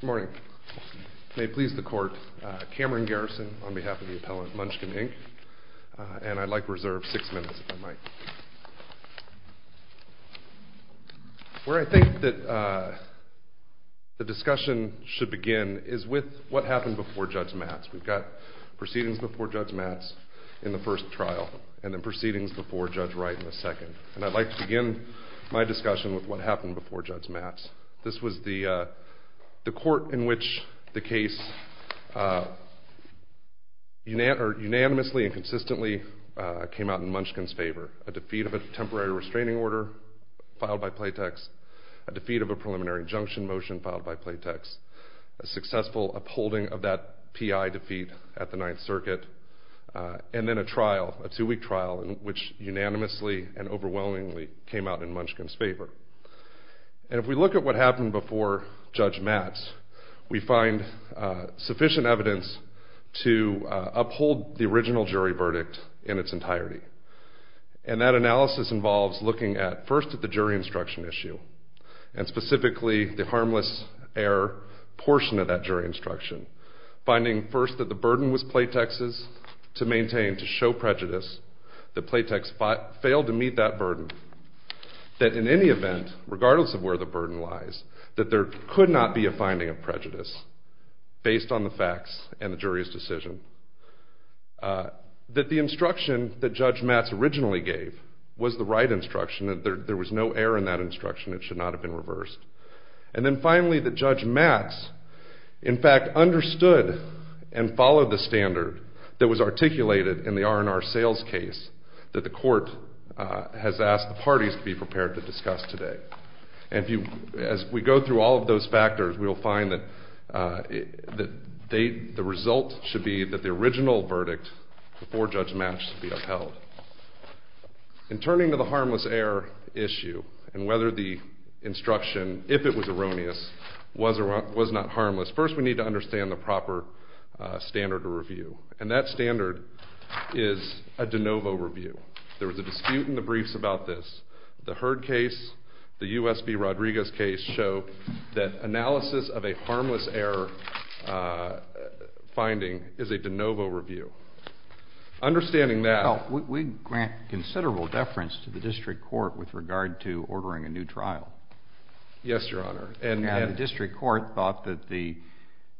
Good morning. May it please the court, Cameron Garrison on behalf of the appellant, Munchkin, Inc., and I'd like to reserve six minutes if I might. Where I think that the discussion should begin is with what happened before Judge Mattes. We've got proceedings before Judge Mattes in the first trial and then proceedings before Judge Wright in the second. And I'd like to begin my discussion with what happened before Judge Mattes. This was the court in which the case unanimously and consistently came out in Munchkin's favor. A defeat of a temporary restraining order filed by Playtex, a defeat of a preliminary injunction motion filed by Playtex, a successful upholding of that P.I. defeat at the Ninth Circuit, and then a trial, a two-week trial, in which unanimously and overwhelmingly came out in Munchkin's favor. And if we look at what happened before Judge Mattes, we find sufficient evidence to uphold the original jury verdict in its entirety. And that analysis involves looking at first at the jury instruction issue, and specifically the harmless error portion of Playtex's to maintain, to show prejudice, that Playtex failed to meet that burden. That in any event, regardless of where the burden lies, that there could not be a finding of prejudice based on the facts and the jury's decision. That the instruction that Judge Mattes originally gave was the right instruction. There was no error in that instruction. It should not have been reversed. And then finally, that Judge Mattes, in fact, understood and reviewed the standard that was articulated in the R&R sales case that the court has asked the parties to be prepared to discuss today. And as we go through all of those factors, we will find that the result should be that the original verdict before Judge Mattes should be upheld. In turning to the harmless error issue, and whether the instruction, if it was erroneous, was or was not harmless, first we need to understand the proper standard of review. And that standard is a de novo review. There was a dispute in the briefs about this. The Hurd case, the U.S. v. Rodriguez case, show that analysis of a harmless error finding is a de novo review. Understanding that... Well, we grant considerable deference to the district court with regard to ordering a new trial. Yes, Your Honor. The district court thought that the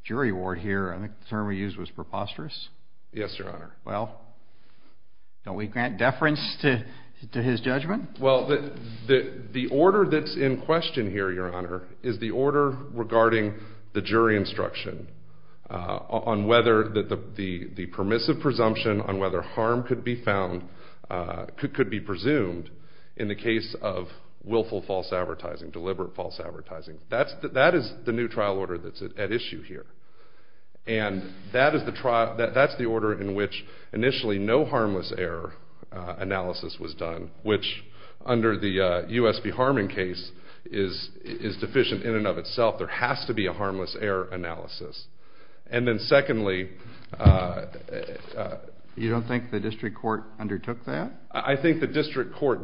jury award here, I think the term we used was preposterous? Yes, Your Honor. Well, don't we grant deference to his judgment? Well, the order that's in question here, Your Honor, is the order regarding the jury instruction on whether the permissive presumption on whether harm could be found, could be presumed in the case of willful false advertising, deliberate false advertising. That is the new trial order that's at issue here. And that's the order in which initially no harmless error analysis was done, which under the U.S. v. Harmon case is deficient in and of itself. There has to be a harmless error analysis. And then secondly... You don't think the district court undertook that? I think the district court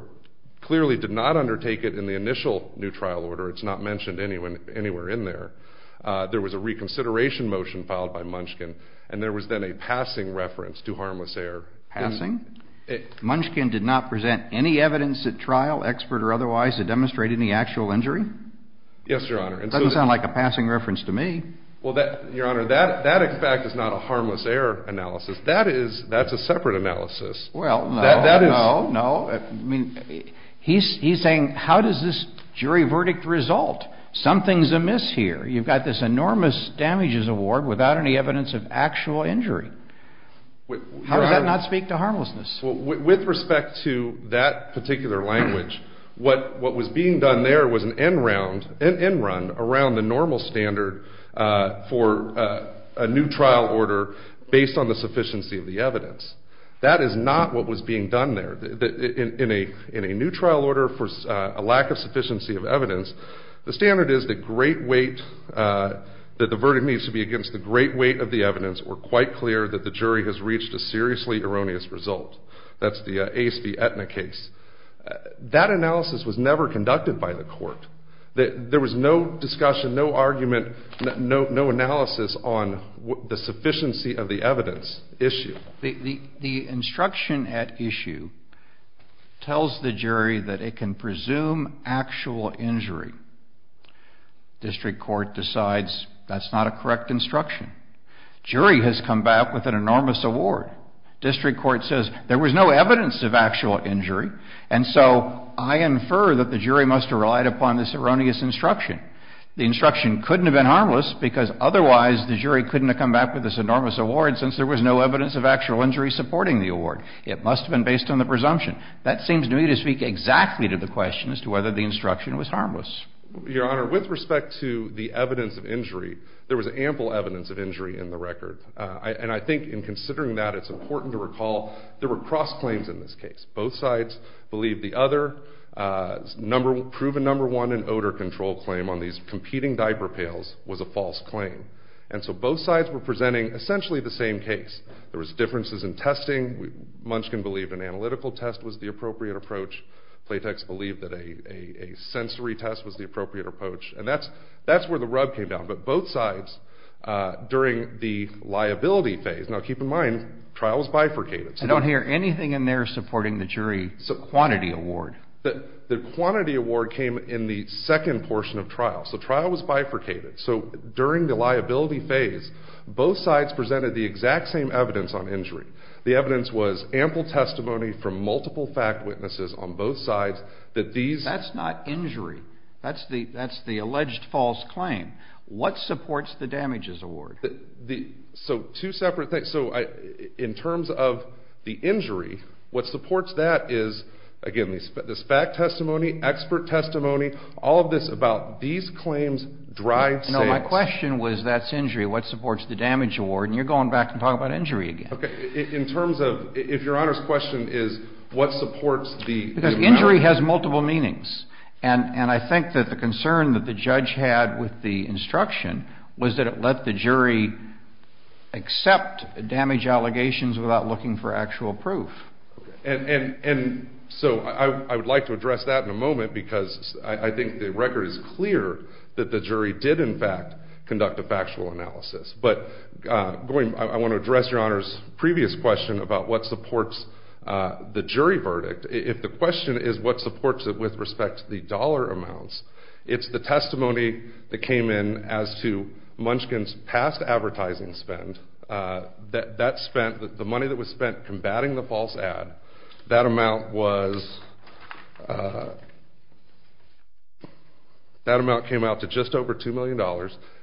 clearly did not undertake it in the initial new trial order. It's not mentioned anywhere in there. There was a reconsideration motion filed by Munchkin, and there was then a passing reference to harmless error. Passing? Munchkin did not present any evidence at trial, expert or otherwise, to demonstrate any actual injury? Yes, Your Honor. It doesn't sound like a passing reference to me. Well, Your Honor, that in fact is not a harmless error analysis. That's a separate analysis. Well, no, no, no. He's saying, how does this jury verdict result? Something's amiss here. You've got this enormous damages award without any evidence of actual injury. How does that not speak to harmlessness? With respect to that particular language, what was being done there was an end round around the normal standard for a new trial order based on the sufficiency of the evidence. That is not what was being done there. In a new trial order for a lack of sufficiency of evidence, the standard is that the verdict needs to be against the great weight of the evidence or quite clear that the jury has reached a seriously erroneous result. That's the Ace v. Aetna case. That analysis was never conducted by the court. There was no discussion, no argument, no analysis on the sufficiency of the evidence issue. The instruction at issue tells the jury that it can presume actual injury. District Court decides that's not a correct instruction. Jury has come back with an enormous award. District Court says there was no evidence of actual injury, and so I infer that the jury must have relied upon this erroneous instruction. The instruction couldn't have been harmless because otherwise the jury couldn't have come back with this enormous award since there was no evidence of actual injury supporting the award. It must have been based on the presumption. That seems to me to speak exactly to the question as to whether the instruction was harmless. Your Honor, with respect to the evidence of injury, there was ample evidence of injury in the record, and I think in considering that it's important to recall there were cross claims in this case. Both sides believe the other proven number one in odor control claim on these competing diaper pails was a false claim, and so both sides were presenting essentially the same case. There was differences in testing. Munchkin believed an analytical test was the appropriate approach. Platex believed that a sensory test was the appropriate approach, and that's where the rub came down, but both sides during the liability phase, now keep in mind trial was bifurcated. I don't hear anything in there supporting the jury quantity award. The quantity award came in the second portion of trial, so trial was bifurcated, so during the liability phase, both sides presented the exact same evidence on injury. The evidence was ample testimony from multiple fact witnesses on both sides that these... That's not injury. That's the alleged false claim. What supports the damages award? So two separate things. So in terms of the injury, what supports that is, again, this is fact testimony, expert testimony, all of this about these claims, dry sayings. No, my question was that's injury. What supports the damage award? And you're going back and talking about injury again. In terms of, if Your Honor's question is what supports the... Because injury has multiple meanings, and I think that the concern that the judge had with the instruction was that it let the jury accept damage allegations without looking for actual proof. And so I would like to address that in a moment because I think the record is clear that the jury did, in fact, conduct a factual analysis. But I want to address Your Honor's previous question about what supports the jury verdict. If the question is what supports it with respect to the dollar amounts, it's the testimony that came in as to Munchkin's past advertising spend. That spent, the money that was spent combating the false ad, that amount was, that amount came out to just over $2 million.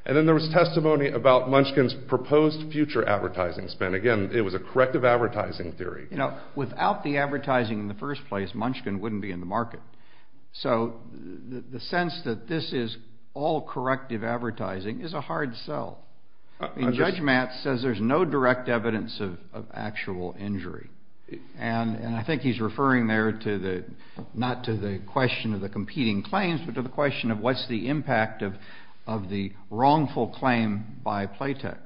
And then there was testimony about Munchkin's proposed future advertising spend. Again, it was a corrective advertising theory. You know, without the advertising in the first place, Munchkin wouldn't be in the market. So the sense that this is all corrective advertising is a hard sell. Judge Matt says there's no direct evidence of actual injury. And I think he's referring there to the, not to the question of the competing claims, but to the question of what's the impact of the wrongful claim by Playtex.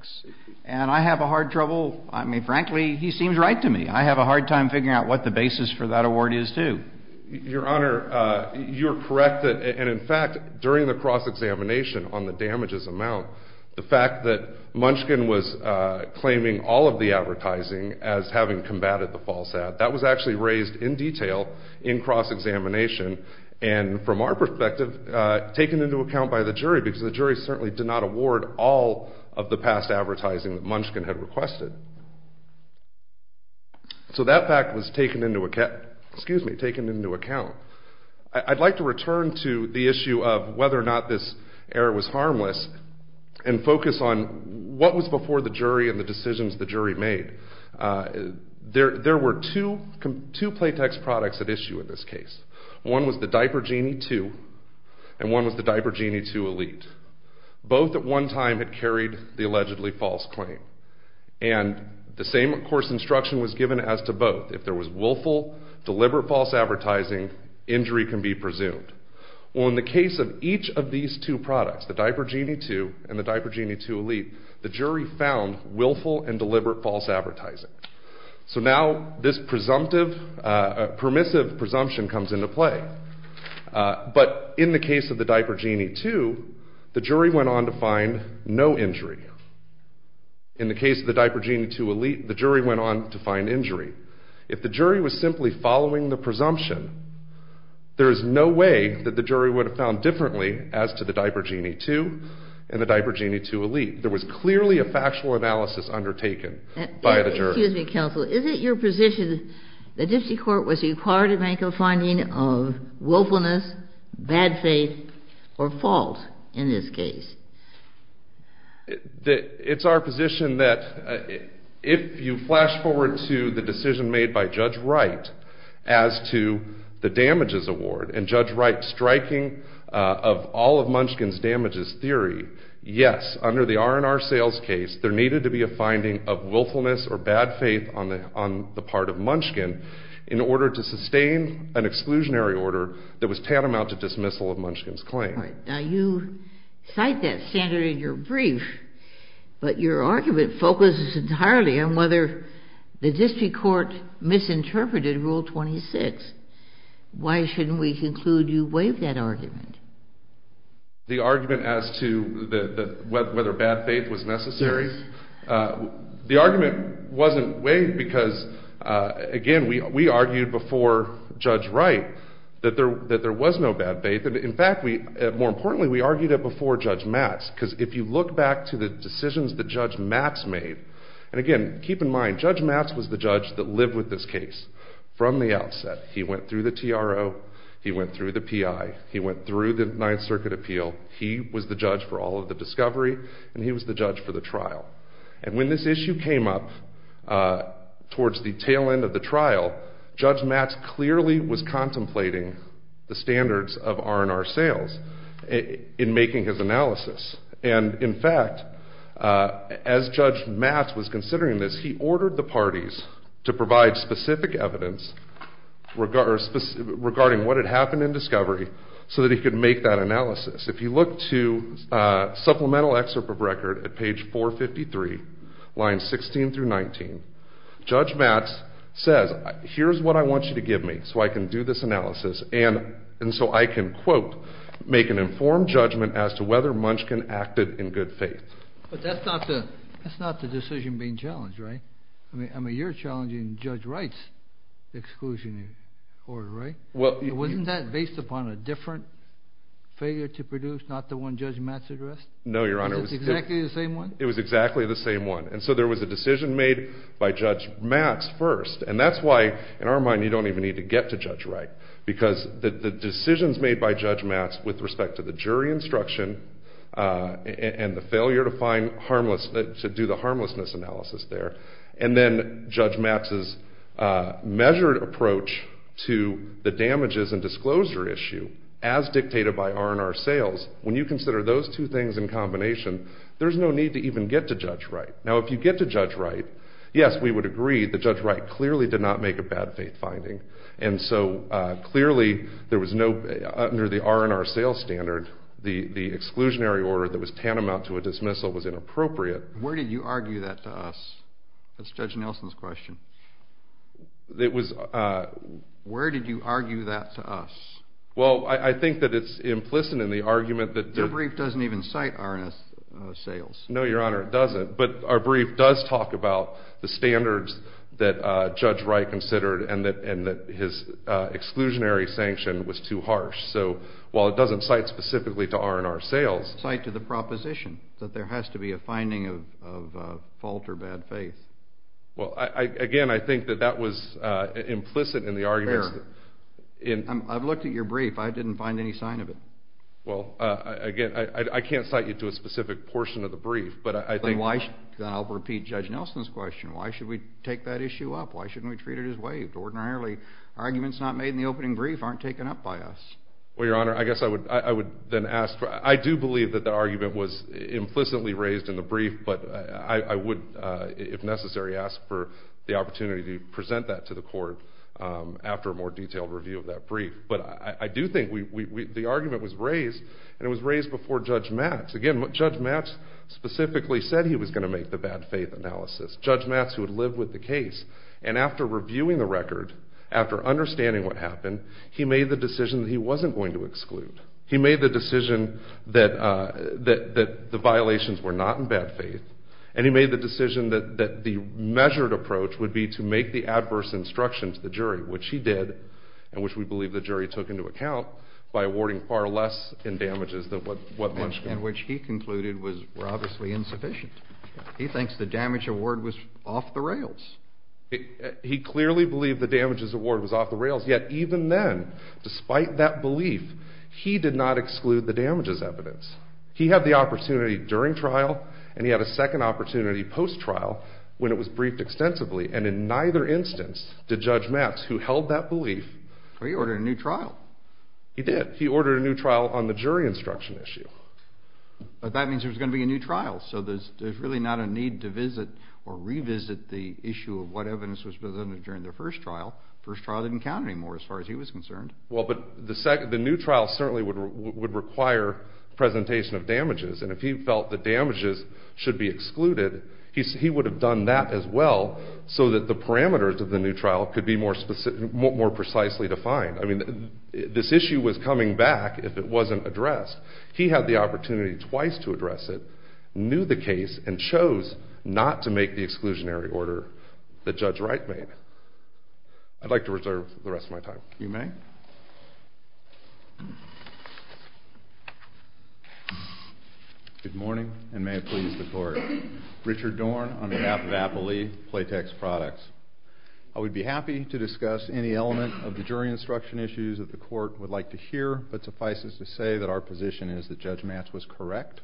And I have a hard trouble, I mean, frankly, he seems right to me. I have a hard time figuring out what the basis for that award is, too. Your Honor, you're correct that, and in fact, during the cross-examination on the damages amount, the fact that Munchkin was claiming all of the advertising as having combated the false ad, that was actually raised in detail in cross-examination, and from our perspective, taken into account by the jury, because the jury certainly did not award all of the past advertising that Munchkin had requested. So that fact was taken into, excuse me, taken into account. I'd like to return to the issue of whether or not this error was harmless, and focus on what was before the jury and the decisions the jury made. There were two Playtex products at issue in this case. One was the Diaper Genie 2, and one was the Diaper Genie 2 Elite. Both at one time had carried the allegedly false claim. And the same, of course, instruction was given as to both. If there was willful, deliberate false advertising, injury can be presumed. Well, in the case of each of these two products, the Diaper Genie 2 and the Diaper Genie 2 Elite, the jury found willful and deliberate false advertising. So now this presumptive, permissive presumption comes into play. But in the case of the Diaper Genie 2, the jury went on to find no injury. In the case of the Diaper Genie 2 Elite, the jury went on to find injury. If the jury was simply following the presumption, there is no way that the jury would have found differently as to the Diaper Genie 2 and the Diaper Genie 2 Elite. There was clearly a factual analysis undertaken by the jury. Excuse me, counsel. Is it your position that the Dixie Court was required to make a finding of willfulness, bad faith, or fault in this case? It's our position that if you flash forward to the decision made by Judge Wright as to the damages award and Judge Wright's striking of all of Munchkin's damages theory, yes, under the R&R sales case, there needed to be a finding of willfulness or bad faith on the part of Munchkin in order to sustain an exclusionary order that was tantamount to dismissal of Munchkin's claim. Now you cite that standard in your brief, but your argument focuses entirely on whether the Dixie Court misinterpreted Rule 26. Why shouldn't we conclude you waived that argument? The argument as to whether bad faith was necessary? The argument wasn't waived because, again, we argued before Judge Wright that there was no bad faith. In fact, more importantly, we argued it before Judge Matz because if you look back to the decisions that Judge Matz made, and again, keep in mind, Judge Matz was the judge that lived with this case from the outset. He went through the TRO. He went through the PI. He went through the Ninth Circuit Appeal. He was the judge for all of the discovery, and he was the judge for the sale. Judge Matz clearly was contemplating the standards of R&R sales in making his analysis, and in fact, as Judge Matz was considering this, he ordered the parties to provide specific evidence regarding what had happened in discovery so that he could make that analysis. If you look to Supplemental Excerpt of Record at page 453, lines 16 through 19, Judge Matz says, here's what I want you to give me so I can do this analysis, and so I can, quote, make an informed judgment as to whether Munchkin acted in good faith. But that's not the decision being challenged, right? I mean, you're challenging Judge Wright's exclusionary order, right? Wasn't that based upon a different figure to produce, not the one Judge Matz addressed? No, Your Honor. Was it exactly the same one? It was exactly the same one, and so there was a decision made by Judge Matz first, and that's why, in our mind, you don't even need to get to Judge Wright, because the decisions made by Judge Matz with respect to the jury instruction and the failure to do the harmlessness analysis there, and then Judge Matz's measured approach to the damages and disclosure issue as dictated by R&R sales, when you consider those two things in combination, there's no need to even get to Judge Wright. Now, if you get to Judge Wright, yes, we would agree that Judge Wright clearly did not make a bad faith finding, and so, clearly, there was no, under the R&R sales standard, the exclusionary order that was tantamount to a dismissal was inappropriate. Where did you argue that to us? That's Judge Nelson's question. It was... Where did you argue that to us? Well, I think that it's implicit in the argument that... Your brief doesn't even cite R&R sales. No, Your Honor, it doesn't, but our brief does talk about the standards that Judge Wright considered and that his exclusionary sanction was too harsh, so while it doesn't cite specifically to R&R sales... Cite to the proposition that there has to be a finding of fault or bad faith. Well, again, I think that that was implicit in the argument... Fair. I've looked at your brief. I didn't find any sign of it. Well, again, I can't cite you to a specific portion of the brief, but I think... Then I'll repeat Judge Nelson's question. Why should we take that issue up? Why shouldn't we treat it as waived? Ordinarily, arguments not made in the opening brief aren't taken up by us. Well, Your Honor, I guess I would then ask... I do believe that the argument was implicitly raised in the brief, but I would, if necessary, ask for the opportunity to present that to the court after a more detailed review of that brief, but I do think the argument was raised, and it was raised before Judge Matz. Again, Judge Matz specifically said he was going to make the bad faith analysis. Judge Matz, who had lived with the case, and after reviewing the record, after understanding what happened, he made the decision that he wasn't going to exclude. He made the decision that the violations were not in bad faith, and he made the decision that the measured approach would be to make the adverse instruction to the jury, which he did, and which we believe the jury took into account by awarding far less in damages than what Munch... And which he concluded were obviously insufficient. He thinks the damage award was off the rails. He clearly believed the damages award was off the rails, yet even then, despite that belief, he did not exclude the damages evidence. He had the opportunity during trial, and he had a second opportunity post-trial when it was briefed extensively, and in neither instance did Judge Matz, who held that belief... Well, he ordered a new trial. He did. He ordered a new trial on the jury instruction issue. That means there was going to be a new trial, so there's really not a need to visit or revisit the issue of what evidence was presented during the first trial. The first trial didn't count anymore as far as he was concerned. Well, but the new trial certainly would require presentation of damages, and if he felt the new trial should be excluded, he would have done that as well, so that the parameters of the new trial could be more precisely defined. I mean, this issue was coming back if it wasn't addressed. He had the opportunity twice to address it, knew the case, and chose not to make the exclusionary order that Judge Wright made. I'd like to reserve the rest of my time. You may. Good morning, and may it please the Court. Richard Dorn, on behalf of Apple Lee Playtex Products. I would be happy to discuss any element of the jury instruction issues that the Court would like to hear, but suffice it to say that our position is that Judge Matz was correct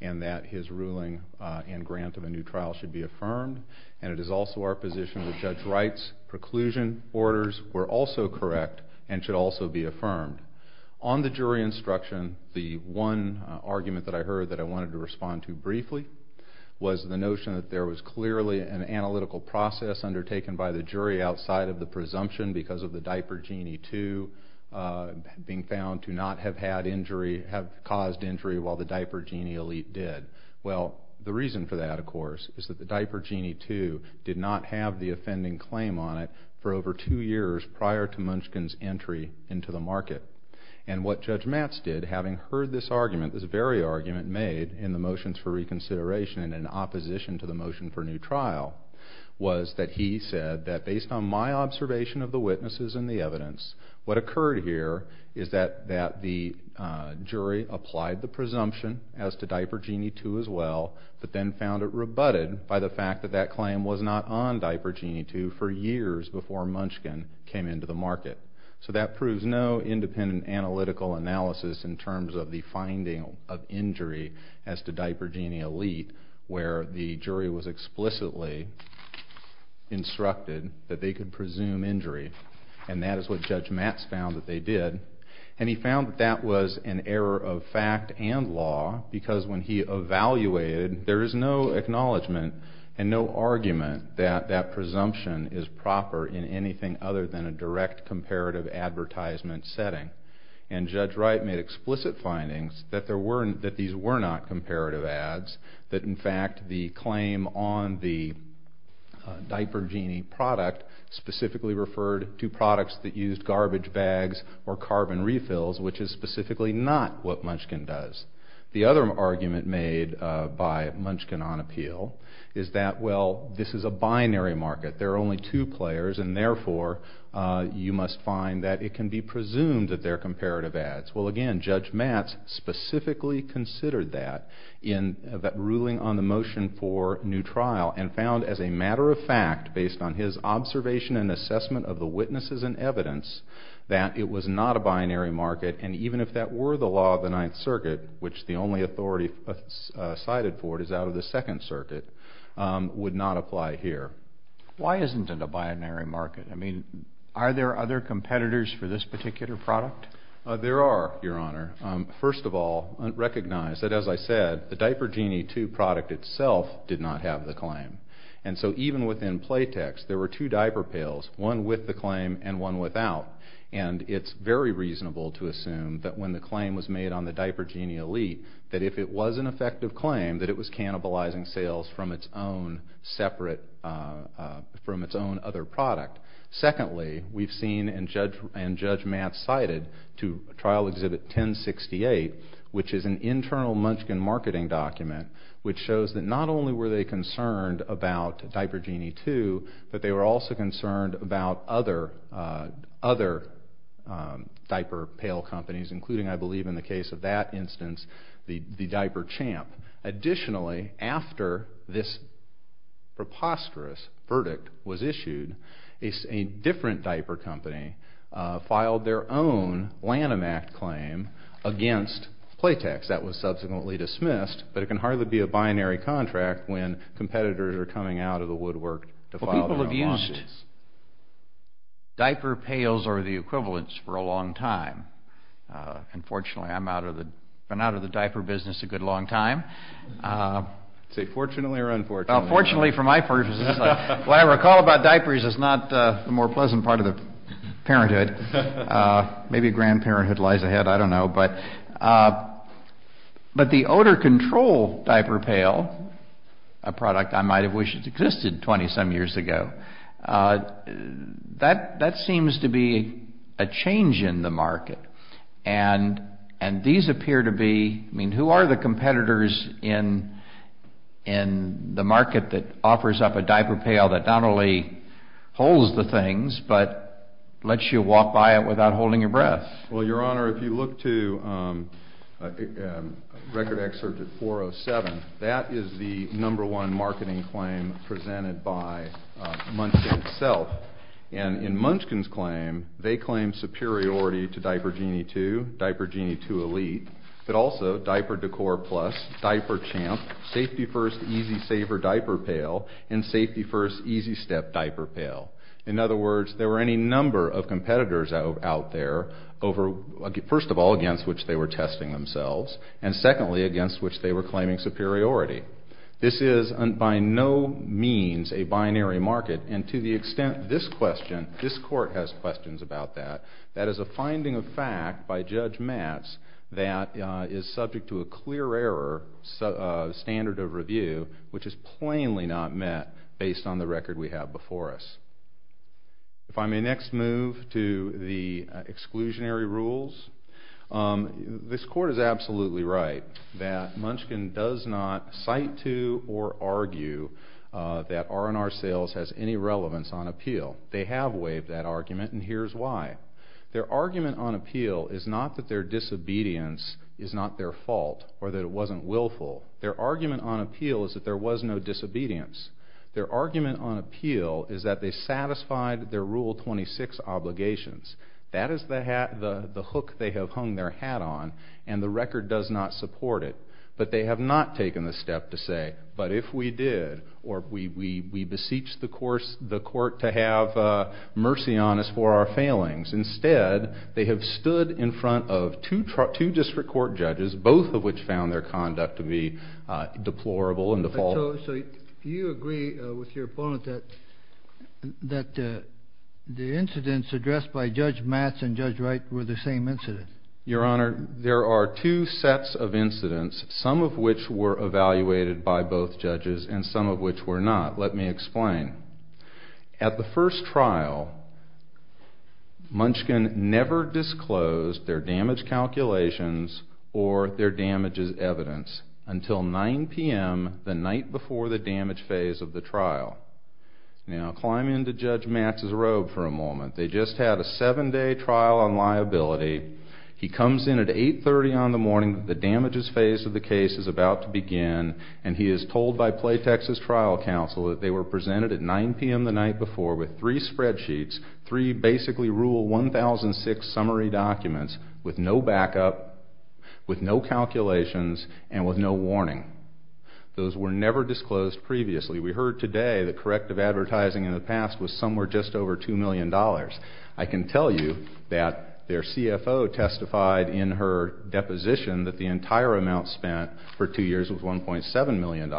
and that his ruling and grant of a new trial should be affirmed, and it should also be affirmed. On the jury instruction, the one argument that I heard that I wanted to respond to briefly was the notion that there was clearly an analytical process undertaken by the jury outside of the presumption because of the Diaper Genie 2 being found to not have had injury, have caused injury, while the Diaper Genie Elite did. Well, the reason for that, of course, is that the Diaper Genie 2 did not have the offending claim on it for over two years prior to Munchkin's entry into the market. And what Judge Matz did, having heard this argument, this very argument made in the motions for reconsideration and in opposition to the motion for new trial, was that he said that based on my observation of the witnesses and the evidence, what occurred here is that the jury applied the presumption as to Diaper Genie 2 as well, but then found it rebutted by the fact that that claim was not on Diaper Genie 2 for years before Munchkin came into the market. So that proves no independent analytical analysis in terms of the finding of injury as to Diaper Genie Elite where the jury was explicitly instructed that they could presume injury. And that is what Judge Matz found that they did. And he found that that was an error of fact and law because when he evaluated, there is no acknowledgment and no argument that that presumption is proper in anything other than a direct comparative advertisement setting. And Judge Wright made explicit findings that these were not comparative ads, that in fact the claim on the Diaper Genie product specifically referred to products that used garbage bags or carbon refills, which is specifically not what Munchkin does. The other argument made by Munchkin on appeal is that, well, this is a binary market. There are only two players and therefore you must find that it can be presumed that they are comparative ads. Well, again, Judge Matz specifically considered that ruling on the motion for new trial and found as a matter of fact, based on his observation and assessment of the witnesses and evidence, that it was not a binary market and even if that were the law of the Ninth Circuit, which the only authority cited for it is out of the Second Circuit, would not apply here. Why isn't it a binary market? I mean, are there other competitors for this particular product? There are, Your Honor. First of all, recognize that as I said, the Diaper Genie 2 product itself did not have the claim. And so even within Playtex, there were two diaper pails, one with the claim and one without. And it's very reasonable to assume that when the claim was made on the Diaper Genie Elite, that if it was an effective claim, that it was cannibalizing sales from its own separate, from its own other product. Secondly, we've seen and Judge Matz cited to trial exhibit 1068, which is an internal Munchkin marketing document, which shows that not only were they concerned about Diaper Genie 2, but they were also concerned about other diaper pail companies, including I believe in the case of that instance, the Diaper Champ. Additionally, after this preposterous verdict was issued, a different diaper company filed their own Lanham Act claim against Playtex. That was subsequently dismissed, but it can hardly be a binary contract when competitors are coming out of the woodwork to file their own lawsuits. Diaper pails are the equivalents for a long time. Unfortunately, I'm out of the diaper business a good long time. Say fortunately or unfortunately. Fortunately for my purposes. What I recall about diapers is not the more pleasant part of the parenthood. Maybe grandparenthood lies ahead, I don't know. But the odor control diaper pail, a product I might have wished existed 20 some years ago, that seems to be a change in the market. And these appear to be, I mean, who are the competitors in the market that offers up a diaper pail that not only holds the things, but lets you walk by it without holding your breath? Well, Your Honor, if you look to record excerpt 407, that is the number one marketing claim presented by Munchkin itself. And in Munchkin's claim, they claim superiority to Diaper Genie 2, Diaper Genie 2 Elite, but also Diaper Decor Plus, Diaper Champ, Safety First Easy Saver Diaper Pail, and Safety First Easy Step Diaper Pail. In other words, there are any number of competitors out there, first of all against which they were testing themselves, and secondly against which they were claiming superiority. This is by no means a binary market, and to the extent this question, this court has questions about that, that is a finding of fact by Judge Matz that is subject to a clear error standard of review, which is plainly not met based on the record we have before us. If I may next move to the exclusionary rules, this court is absolutely right that Munchkin does not cite to or argue that R&R Sales has any relevance on appeal. They have waived that argument, and here's why. Their argument on appeal is not that their disobedience is not their fault or that it wasn't willful. Their argument on appeal is that there was no disobedience. Their argument on appeal is that they satisfied their Rule 26 obligations. That is the hook they have hung their hat on, and the record does not support it. But they have not taken the step to say, but if we did, or we beseech the court to have mercy on us for our failings. Instead, they have stood in front of two district court judges, both of which found their conduct to be deplorable and default. So you agree with your opponent that the incidents addressed by Judge Matz and Judge Wright were the same incidents? Your Honor, there are two sets of incidents, some of which were evaluated by both judges and some of which were not. Let me explain. At the first trial, Munchkin never disclosed their damage calculations or their damages evidence until 9 p.m. the night before the damage phase of the trial. Now, climb into Judge Matz's robe for a moment. They just had a seven-day trial on liability. He comes in at 8.30 on the morning that the damages phase of the case is about to begin, and he is told by Playtex's trial counsel that they were presented at 9 p.m. the night before with three spreadsheets, three basically Rule 1006 summary documents with no backup, with no calculations, and with no warning. Those were never disclosed previously. We heard today that corrective advertising in the past was somewhere just over $2 million. I can tell you that their CFO testified in her deposition that the entire amount spent for two years was $1.7 million.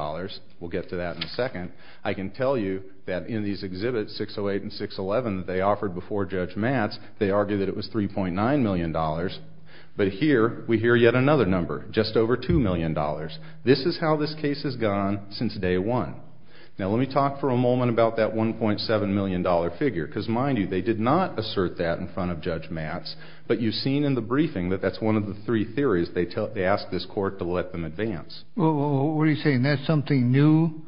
We'll get to that in a second. I can tell you that in these Exhibits 608 and 611 that they offered before Judge Matz, they argued that it was $3.9 million, but here we hear yet another number, just over $2 million. This is how this case has gone since day one. Now, let me talk for a moment about that $1.7 million figure, because mind you, they did not assert that in front of Judge Matz, but you've seen in the briefing that that's one of the three theories they asked this court to let them advance. Well, what are you saying? That's something new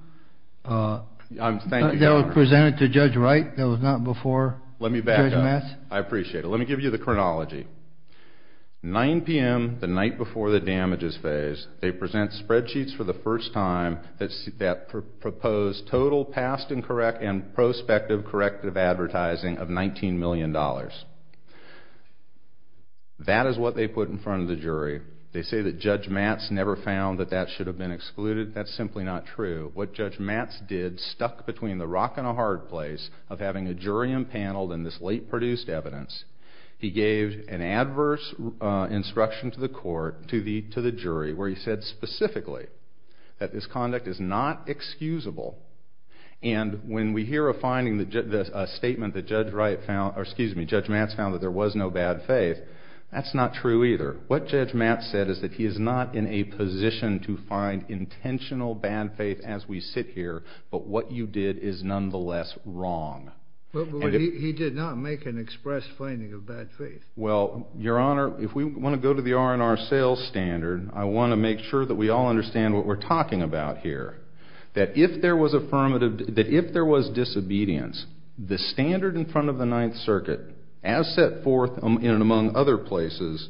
that was presented to Judge Wright that was not before Judge Matz? Let me back up. I appreciate it. Let me give you the chronology. 9 p.m., the night before the damages phase, they present spreadsheets for the first time that propose total past and prospective corrective advertising of $19 million. That is what they put in front of the jury. They say that Judge Matz never found that that should have been excluded. That's simply not true. What Judge Matz did stuck between the rock and the hard place of having a jury impaneled in this late produced evidence. He gave an adverse instruction to the court, to the jury, where he said specifically that this conduct is not excusable. And when we hear a statement that Judge Matz found that there was no bad faith, that's not true either. What Judge Matz said is that he is not in a position to find intentional bad faith as we sit here, but what you did is nonetheless wrong. But he did not make an express finding of bad faith. Well, Your Honor, if we want to go to the R&R sales standard, I want to make sure that we all understand what we're talking about here. That if there was disobedience, the standard in front of the Ninth Circuit, as set forth in and among other places,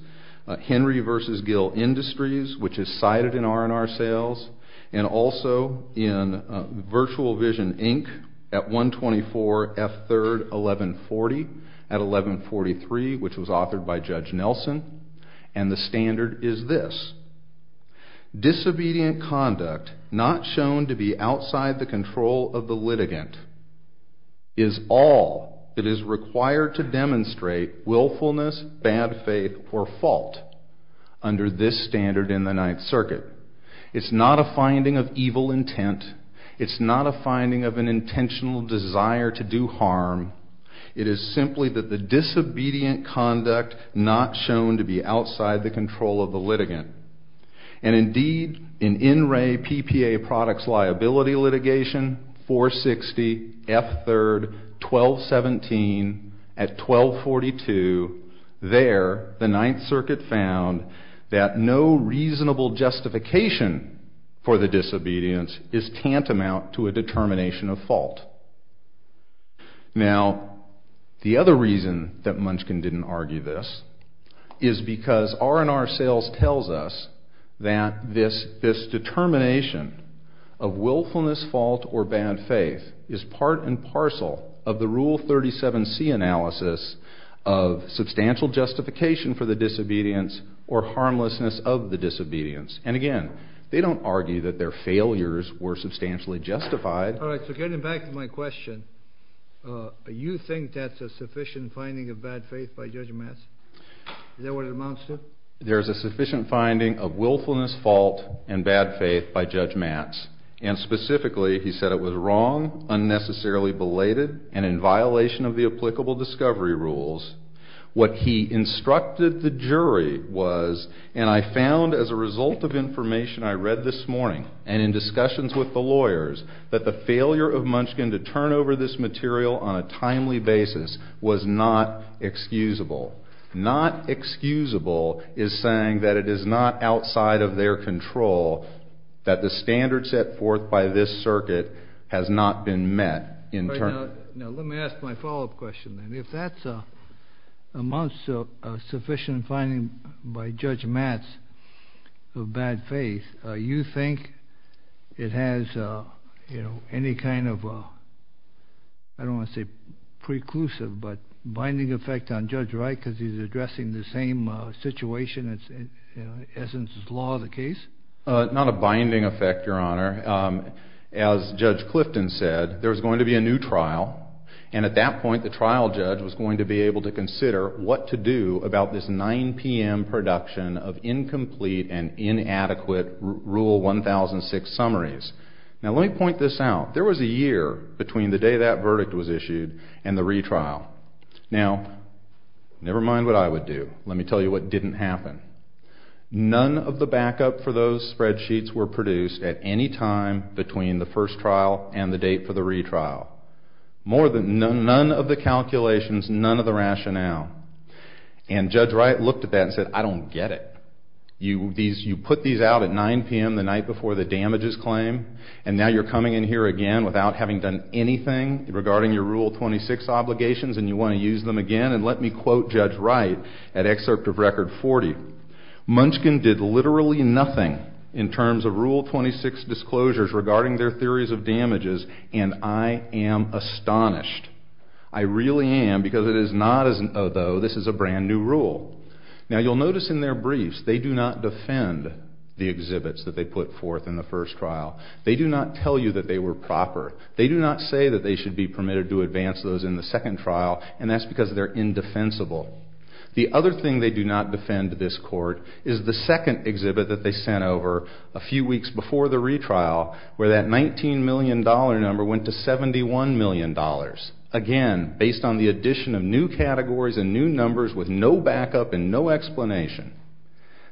Henry v. Gill Industries, which is cited in R&R sales, and also in Virtual Vision, Inc. at 124 F. 3rd, 1140 at 1143, which was authored by Judge Nelson, and the standard is this. Disobedient conduct not shown to be outside the control of the litigant is all that is required to demonstrate willfulness, bad faith, or fault under this standard in the Ninth Circuit. It's not a finding of evil intent. It's not a finding of an intentional desire to do harm. It is simply that the disobedient conduct not shown to be outside the control of the litigant. And indeed, in NRA PPA Products Liability Litigation, 460 F. 3rd, 1217 at 1242, there the Ninth Circuit found that no reasonable justification for the disobedience is tantamount to a determination of fault. Now, the other reason that Munchkin didn't argue this is because R&R sales tells us that this determination of willfulness, fault, or bad faith is part and parcel of the Rule 37C analysis of substantial justification for the disobedience or harmlessness of the disobedience. And again, they don't argue that their failures were substantially justified. All right, so getting back to my question, you think that's a sufficient finding of bad faith by Judge Matz? Is that what it amounts to? There's a sufficient finding of willfulness, fault, and bad faith by Judge Matz. And specifically, he said it was wrong, unnecessarily belated, and in violation of the applicable discovery rules. What he instructed the jury was, and I found as a result of information I read this morning and in discussions with the lawyers, that the failure of Munchkin to turn over this material on a timely basis was not excusable. Not excusable is saying that it is not outside of their control that the standard set forth by this circuit has not been met in turn. All right, now let me ask my follow-up question then. If that's amounts to a sufficient finding by Judge Matz of bad faith, you think it has any kind of, I don't want to say preclusive, but binding effect on Judge Wright because he's addressing the same situation as is law the case? Not a binding effect, Your Honor. As Judge Clifton said, there's going to be a new trial, and at that point, the trial judge was going to be able to consider what to do about this 9 p.m. production of incomplete and inadequate Rule 1006 summaries. Now let me point this out. There was a year between the day that verdict was issued and the retrial. Now, never mind what I would do. Let me tell you what didn't happen. None of the backup for those spreadsheets were produced at any time between the first trial and the date for the retrial. None of the calculations, none of the rationale. And Judge Wright looked at that and said, I don't get it. You put these out at 9 p.m. the night before the damages claim, and now you're coming in here again without having done anything regarding your Rule 26 obligations and you want to use them again? And let me quote Judge Wright at excerpt of Record 40, Munchkin did literally nothing in terms of Rule 26 disclosures regarding their theories of damages, and I am astonished. I really am, because it is not as though this is a brand new rule. Now you'll notice in their briefs, they do not defend the exhibits that they put forth in the first trial. They do not tell you that they were proper. They do not say that they should be permitted to advance those in the second trial, and that's because they're indefensible. The other thing they do not defend this court is the second exhibit that they sent over a few weeks before the retrial, where that $19 million number went to $71 million. Again, based on the addition of new categories and new numbers with no backup and no explanation.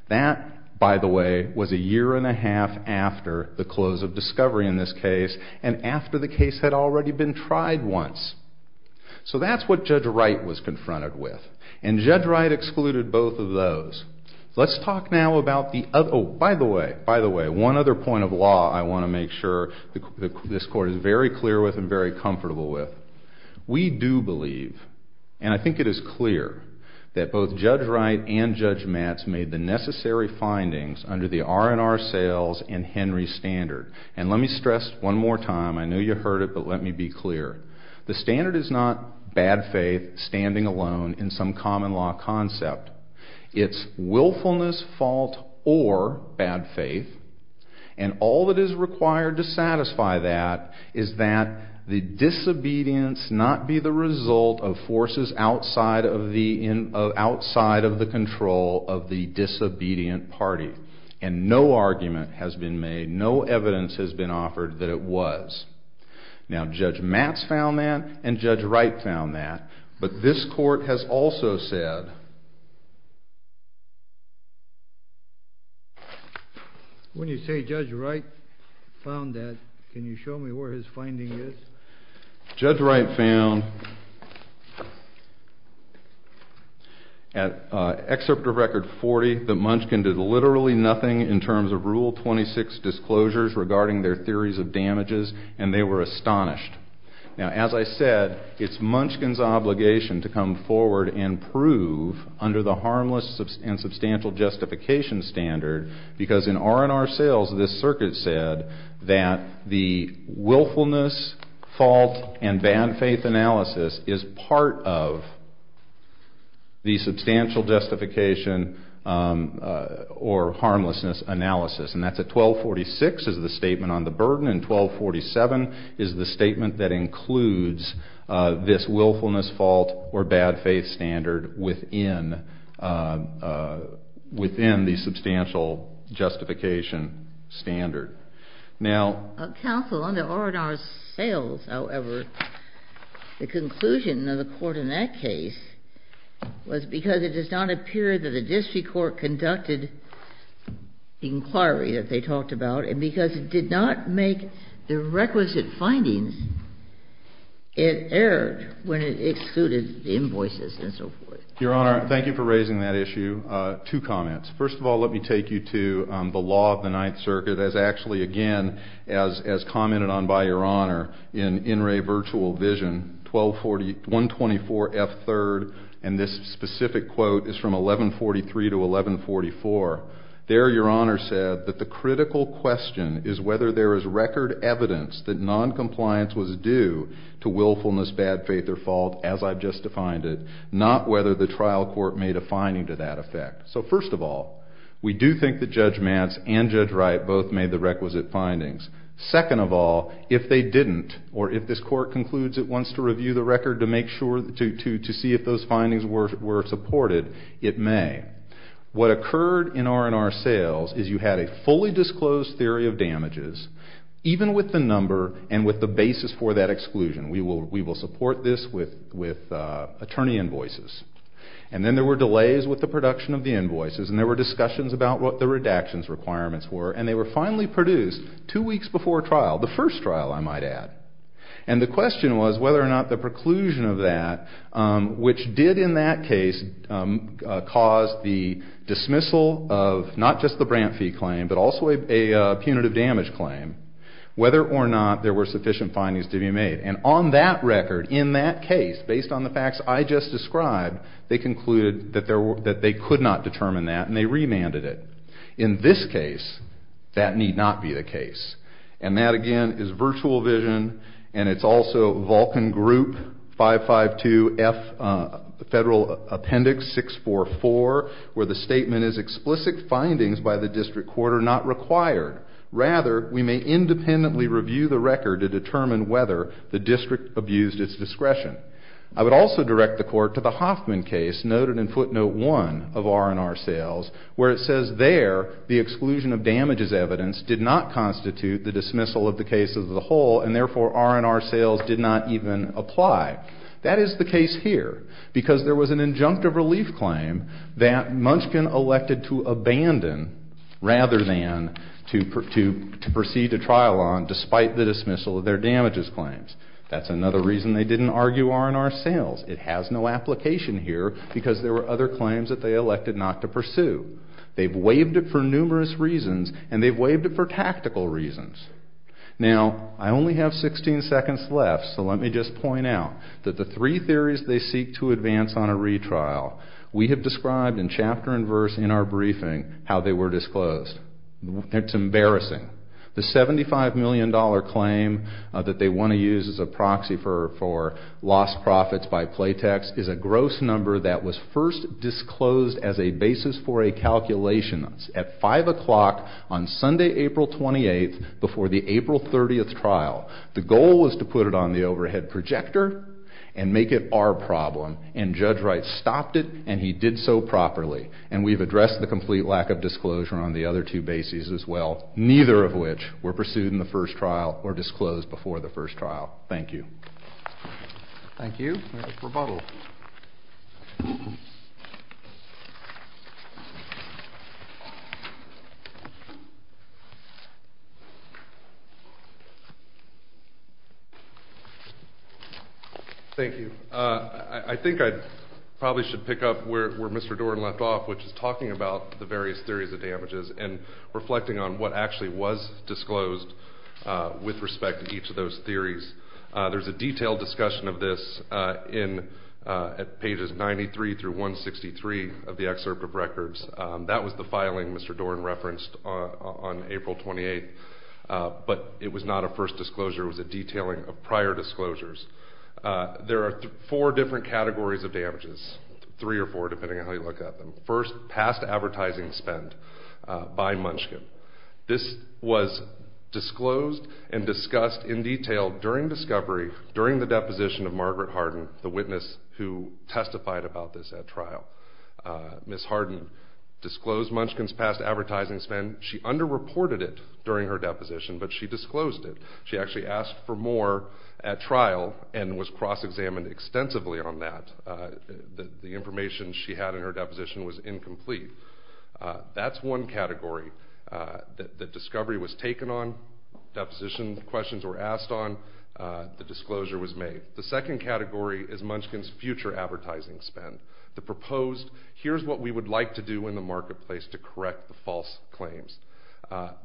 That, by the way, was a year and a half after the close of discovery in this case, and after the case had already been tried once. So that's what Judge Wright was confronted with, and Judge Wright excluded both of those. Let's talk now about the By the way, by the way, one other point of law I want to make sure this court is very clear with and very comfortable with. We do believe, and I think it is clear, that both Judge Wright and Judge Matz made the necessary findings under the R&R sales and Henry standard. And let me stress one more time. I know you heard it, but let me be clear. The standard is not bad faith, standing alone in some common law concept. It's willfulness, fault, or the bad faith. And all that is required to satisfy that is that the disobedience not be the result of forces outside of the control of the disobedient party. And no argument has been made, no evidence has been offered that it was. Now Judge Matz found that, and Judge Wright found that, but this court has also said. When you say Judge Wright found that, can you show me where his finding is? Judge Wright found at Excerpt of Record 40 that Munchkin did literally nothing in terms of Rule 26 disclosures regarding their theories of damages, and they were astonished. Now, as I said, it's Munchkin's obligation to come forward and prove under the harmless and substantial justification standard, because in R&R sales this circuit said that the willfulness, fault, and bad faith analysis is part of the substantial justification or harmlessness analysis. And that's at 1246 is the statement on the burden, and 1247 is the statement that includes this willfulness, fault, or bad faith standard within the substantial justification standard. Now... Counsel, under R&R sales, however, the conclusion of the court in that case was because it does not appear that a district court conducted inquiry that they talked about, and because it did not make the requisite findings, it erred when it excluded the invoices and so forth. Your Honor, thank you for raising that issue. Two comments. First of all, let me take you to the law of the Ninth Circuit as actually, again, as commented on by Your Honor in In Re Virtual Vision 124F3rd, and this specific quote is from 1143 to 1144. There Your Honor said that the critical question is whether there is record evidence that noncompliance was due to willfulness, bad faith, or fault as I've just defined it, not whether the trial court made a finding to that effect. So first of all, we do think that Judge Mance and Judge Mance made the requisite findings. Second of all, if they didn't, or if this court concludes it wants to review the record to make sure, to see if those findings were supported, it may. What occurred in R&R sales is you had a fully disclosed theory of damages, even with the number and with the basis for that exclusion. We will support this with attorney invoices. And then there were delays with the production of the invoices, and there were discussions about what the redactions requirements were, and they were finally produced two weeks before trial, the first trial I might add. And the question was whether or not the preclusion of that, which did in that case cause the dismissal of not just the Brant v. claim, but also a punitive damage claim, whether or not there were sufficient findings to be made. And on that record, in that case, based on the facts I just described, they concluded that they could not determine that, and they remanded it. In this case, that need not be the case. And that again is virtual vision, and it's also Vulcan Group 552F Federal Appendix 644, where the statement is explicit findings by the district court are not required. Rather, we may independently review the record to determine whether the Munchkin case, noted in footnote one of R&R sales, where it says there the exclusion of damages evidence did not constitute the dismissal of the case as a whole, and therefore R&R sales did not even apply. That is the case here, because there was an injunctive relief claim that Munchkin elected to abandon rather than to proceed to trial on, despite the dismissal of their damages claims. That's another reason they didn't argue R&R sales. It has no application here because there were other claims that they elected not to pursue. They've waived it for numerous reasons, and they've waived it for tactical reasons. Now, I only have 16 seconds left, so let me just point out that the three theories they seek to advance on a retrial, we have described in chapter and verse in our briefing how they were disclosed. It's embarrassing. The $75 million claim that they want to use as a proxy for lost profits by Playtex is a gross number that was first disclosed as a basis for a calculation at 5 o'clock on Sunday, April 28th, before the April 30th trial. The goal was to put it on the overhead projector and make it our problem, and Judge Wright stopped it and he did so properly. And we've addressed the complete lack of disclosure on the other two bases as well, neither of which were pursued in the first trial or disclosed before the trial. Thank you. Thank you. I think I probably should pick up where Mr. Doran left off, which is talking about the various theories of damages and reflecting on what actually was disclosed with respect to each of those theories. There's a detailed discussion of this at pages 93 through 163 of the excerpt of records. That was the filing Mr. Doran referenced on April 28th, but it was not a first disclosure. It was a detailing of prior disclosures. There are four different categories of damages, three or four depending on how you look at them. First, past advertising spend by Munchkin. This was disclosed and discussed in detail during discovery, during the deposition of Margaret Harden, the witness who testified about this at trial. Ms. Harden disclosed Munchkin's past advertising spend. She underreported it during her deposition, but she disclosed it. She actually asked for more at trial and was cross-examined extensively on that. The information she had in her deposition was incomplete. That's one category. The discovery was taken on, deposition questions were asked on, the disclosure was made. The second category is Munchkin's future advertising spend. The proposed, here's what we would like to do in the marketplace to correct the false claims.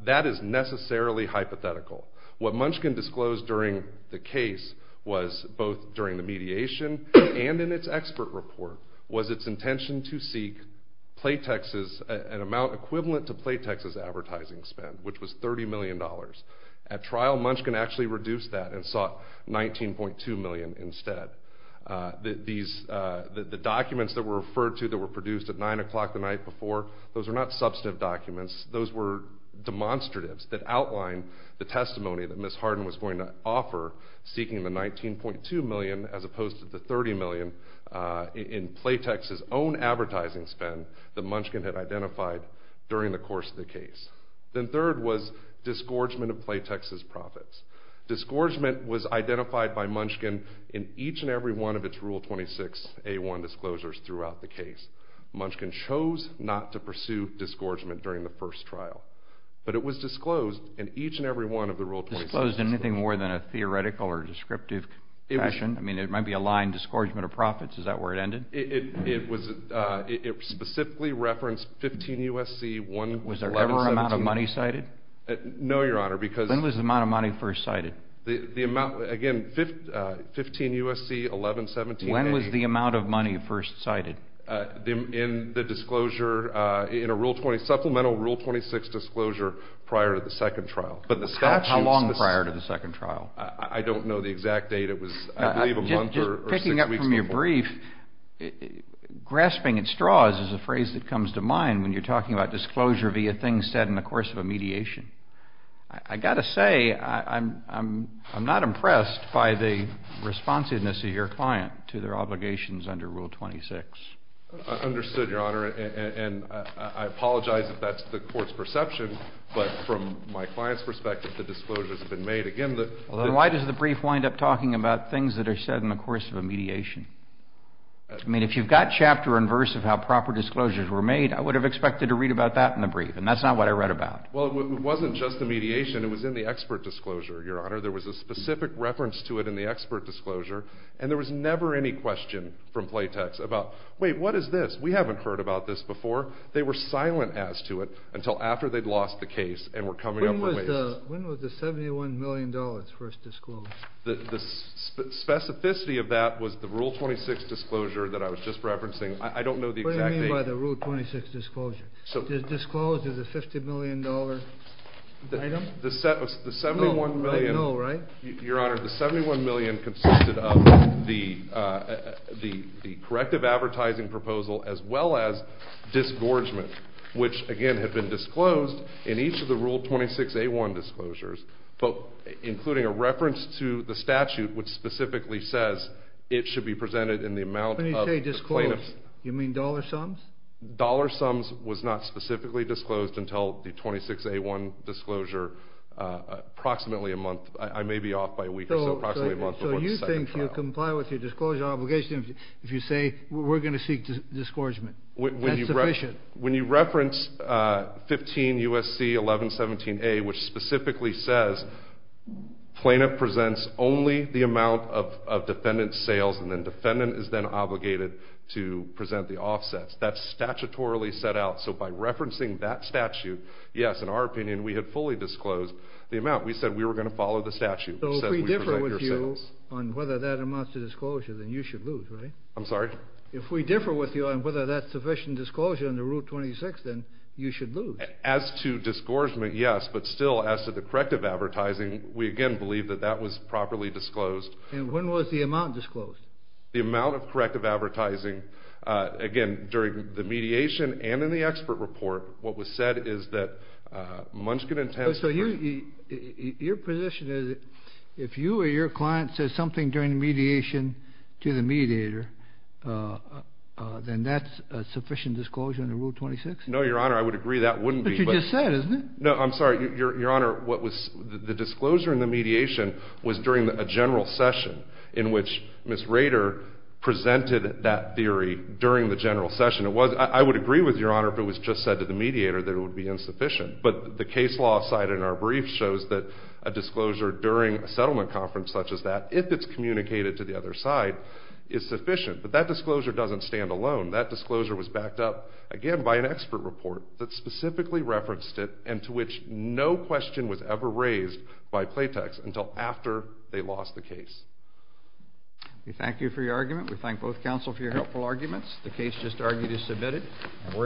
That is necessarily hypothetical. What Munchkin disclosed during the case was, both during the mediation and in its expert report, was its intention to seek an amount equivalent to Playtex's advertising spend, which was $30 million. At trial, Munchkin actually reduced that and sought $19.2 million instead. The documents that were referred to that were produced at 9 o'clock the night before, those were not substantive documents, those were demonstratives that outlined the testimony that Ms. Harden was going to offer, seeking the $19.2 million as opposed to the $30 million in Playtex's own advertising spend that Munchkin had identified during the course of the case. Then third was disgorgement of Playtex's profits. Disgorgement was identified by Munchkin in each and every one of its Rule 26A1 disclosures throughout the case. Munchkin chose not to pursue disgorgement during the first trial, but it was disclosed in each and every one of the Rule 26A1 disclosures. Disclosed in anything more than a theoretical or descriptive fashion? I mean, it might be a line, disgorgement of profits, is that where it ended? It was, it specifically referenced 15 U.S.C. 1117. Was there ever an amount of money cited? No, Your Honor, because... When was the amount of money first cited? The amount, again, 15 U.S.C. 1117. When was the amount of money first cited? In the disclosure, in a Rule 20, supplemental Rule 26 disclosure prior to the second trial. But the statute... How long prior to the second trial? I don't know the exact date. It was, I believe, a month or six weeks before. Just picking up from your brief, grasping at straws is a phrase that comes to mind when you're talking about disclosure via things said in the course of a mediation. I've got to say, I'm not impressed by the responsiveness of your client to their obligations under Rule 26. I understood, Your Honor, and I apologize if that's the Court's perception, but from my client's perspective, the disclosures have been made. Again, the... Well, then why does the brief wind up talking about things that are said in the course of a mediation? I mean, if you've got chapter and verse of how proper disclosures were made, I would have expected to read about that in the brief, and that's not what I read about. Well, it wasn't just the mediation. It was in the expert disclosure, Your Honor. There was a specific reference to it in the expert disclosure, and there was never any question from Playtex about, wait, what is this? We haven't heard about this before. They were silent as to it until after they'd lost the case and were coming up with ways... When was the $71 million first disclosed? The specificity of that was the Rule 26 disclosure that I was just referencing. I don't know the exact date... Disclosed as a $50 million item? The $71 million... No, right? Your Honor, the $71 million consisted of the corrective advertising proposal as well as disgorgement, which, again, had been disclosed in each of the Rule 26A1 disclosures, including a reference to the statute which specifically says it should be presented in the amount of the plaintiff's... When you say disclosed, you mean dollar sums? Dollar sums was not specifically disclosed until the 26A1 disclosure approximately a month... I may be off by a week or so, approximately a month before the second trial. So you think you comply with your disclosure obligation if you say we're going to seek disgorgement? That's sufficient? When you reference 15 U.S.C. 1117A, which specifically says plaintiff presents only the amount of defendant's sales, and then defendant is then obligated to present the amount that's statutorily set out. So by referencing that statute, yes, in our opinion, we had fully disclosed the amount. We said we were going to follow the statute. So if we differ with you on whether that amounts to disclosure, then you should lose, right? I'm sorry? If we differ with you on whether that's sufficient disclosure under Rule 26, then you should lose. As to disgorgement, yes, but still, as to the corrective advertising, we again believe that that was properly disclosed. And when was the amount disclosed? The amount of corrective advertising, again, during the mediation and in the expert report, what was said is that Munchkin and Tamsen— So your position is if you or your client says something during the mediation to the mediator, then that's sufficient disclosure under Rule 26? No, Your Honor, I would agree that wouldn't be. But you just said, isn't it? No, I'm sorry. Your Honor, what was—the disclosure in the mediation was during a general session in which Ms. Rader presented that theory during the general session. I would agree with Your Honor if it was just said to the mediator that it would be insufficient. But the case law cited in our brief shows that a disclosure during a settlement conference such as that, if it's communicated to the other side, is sufficient. But that disclosure doesn't stand alone. That disclosure was backed up, again, by an expert report that specifically referenced it and to which no question was ever raised by Playtex until after they lost the case. We thank you for your argument. We thank both counsel for your helpful arguments. The case just argued is submitted.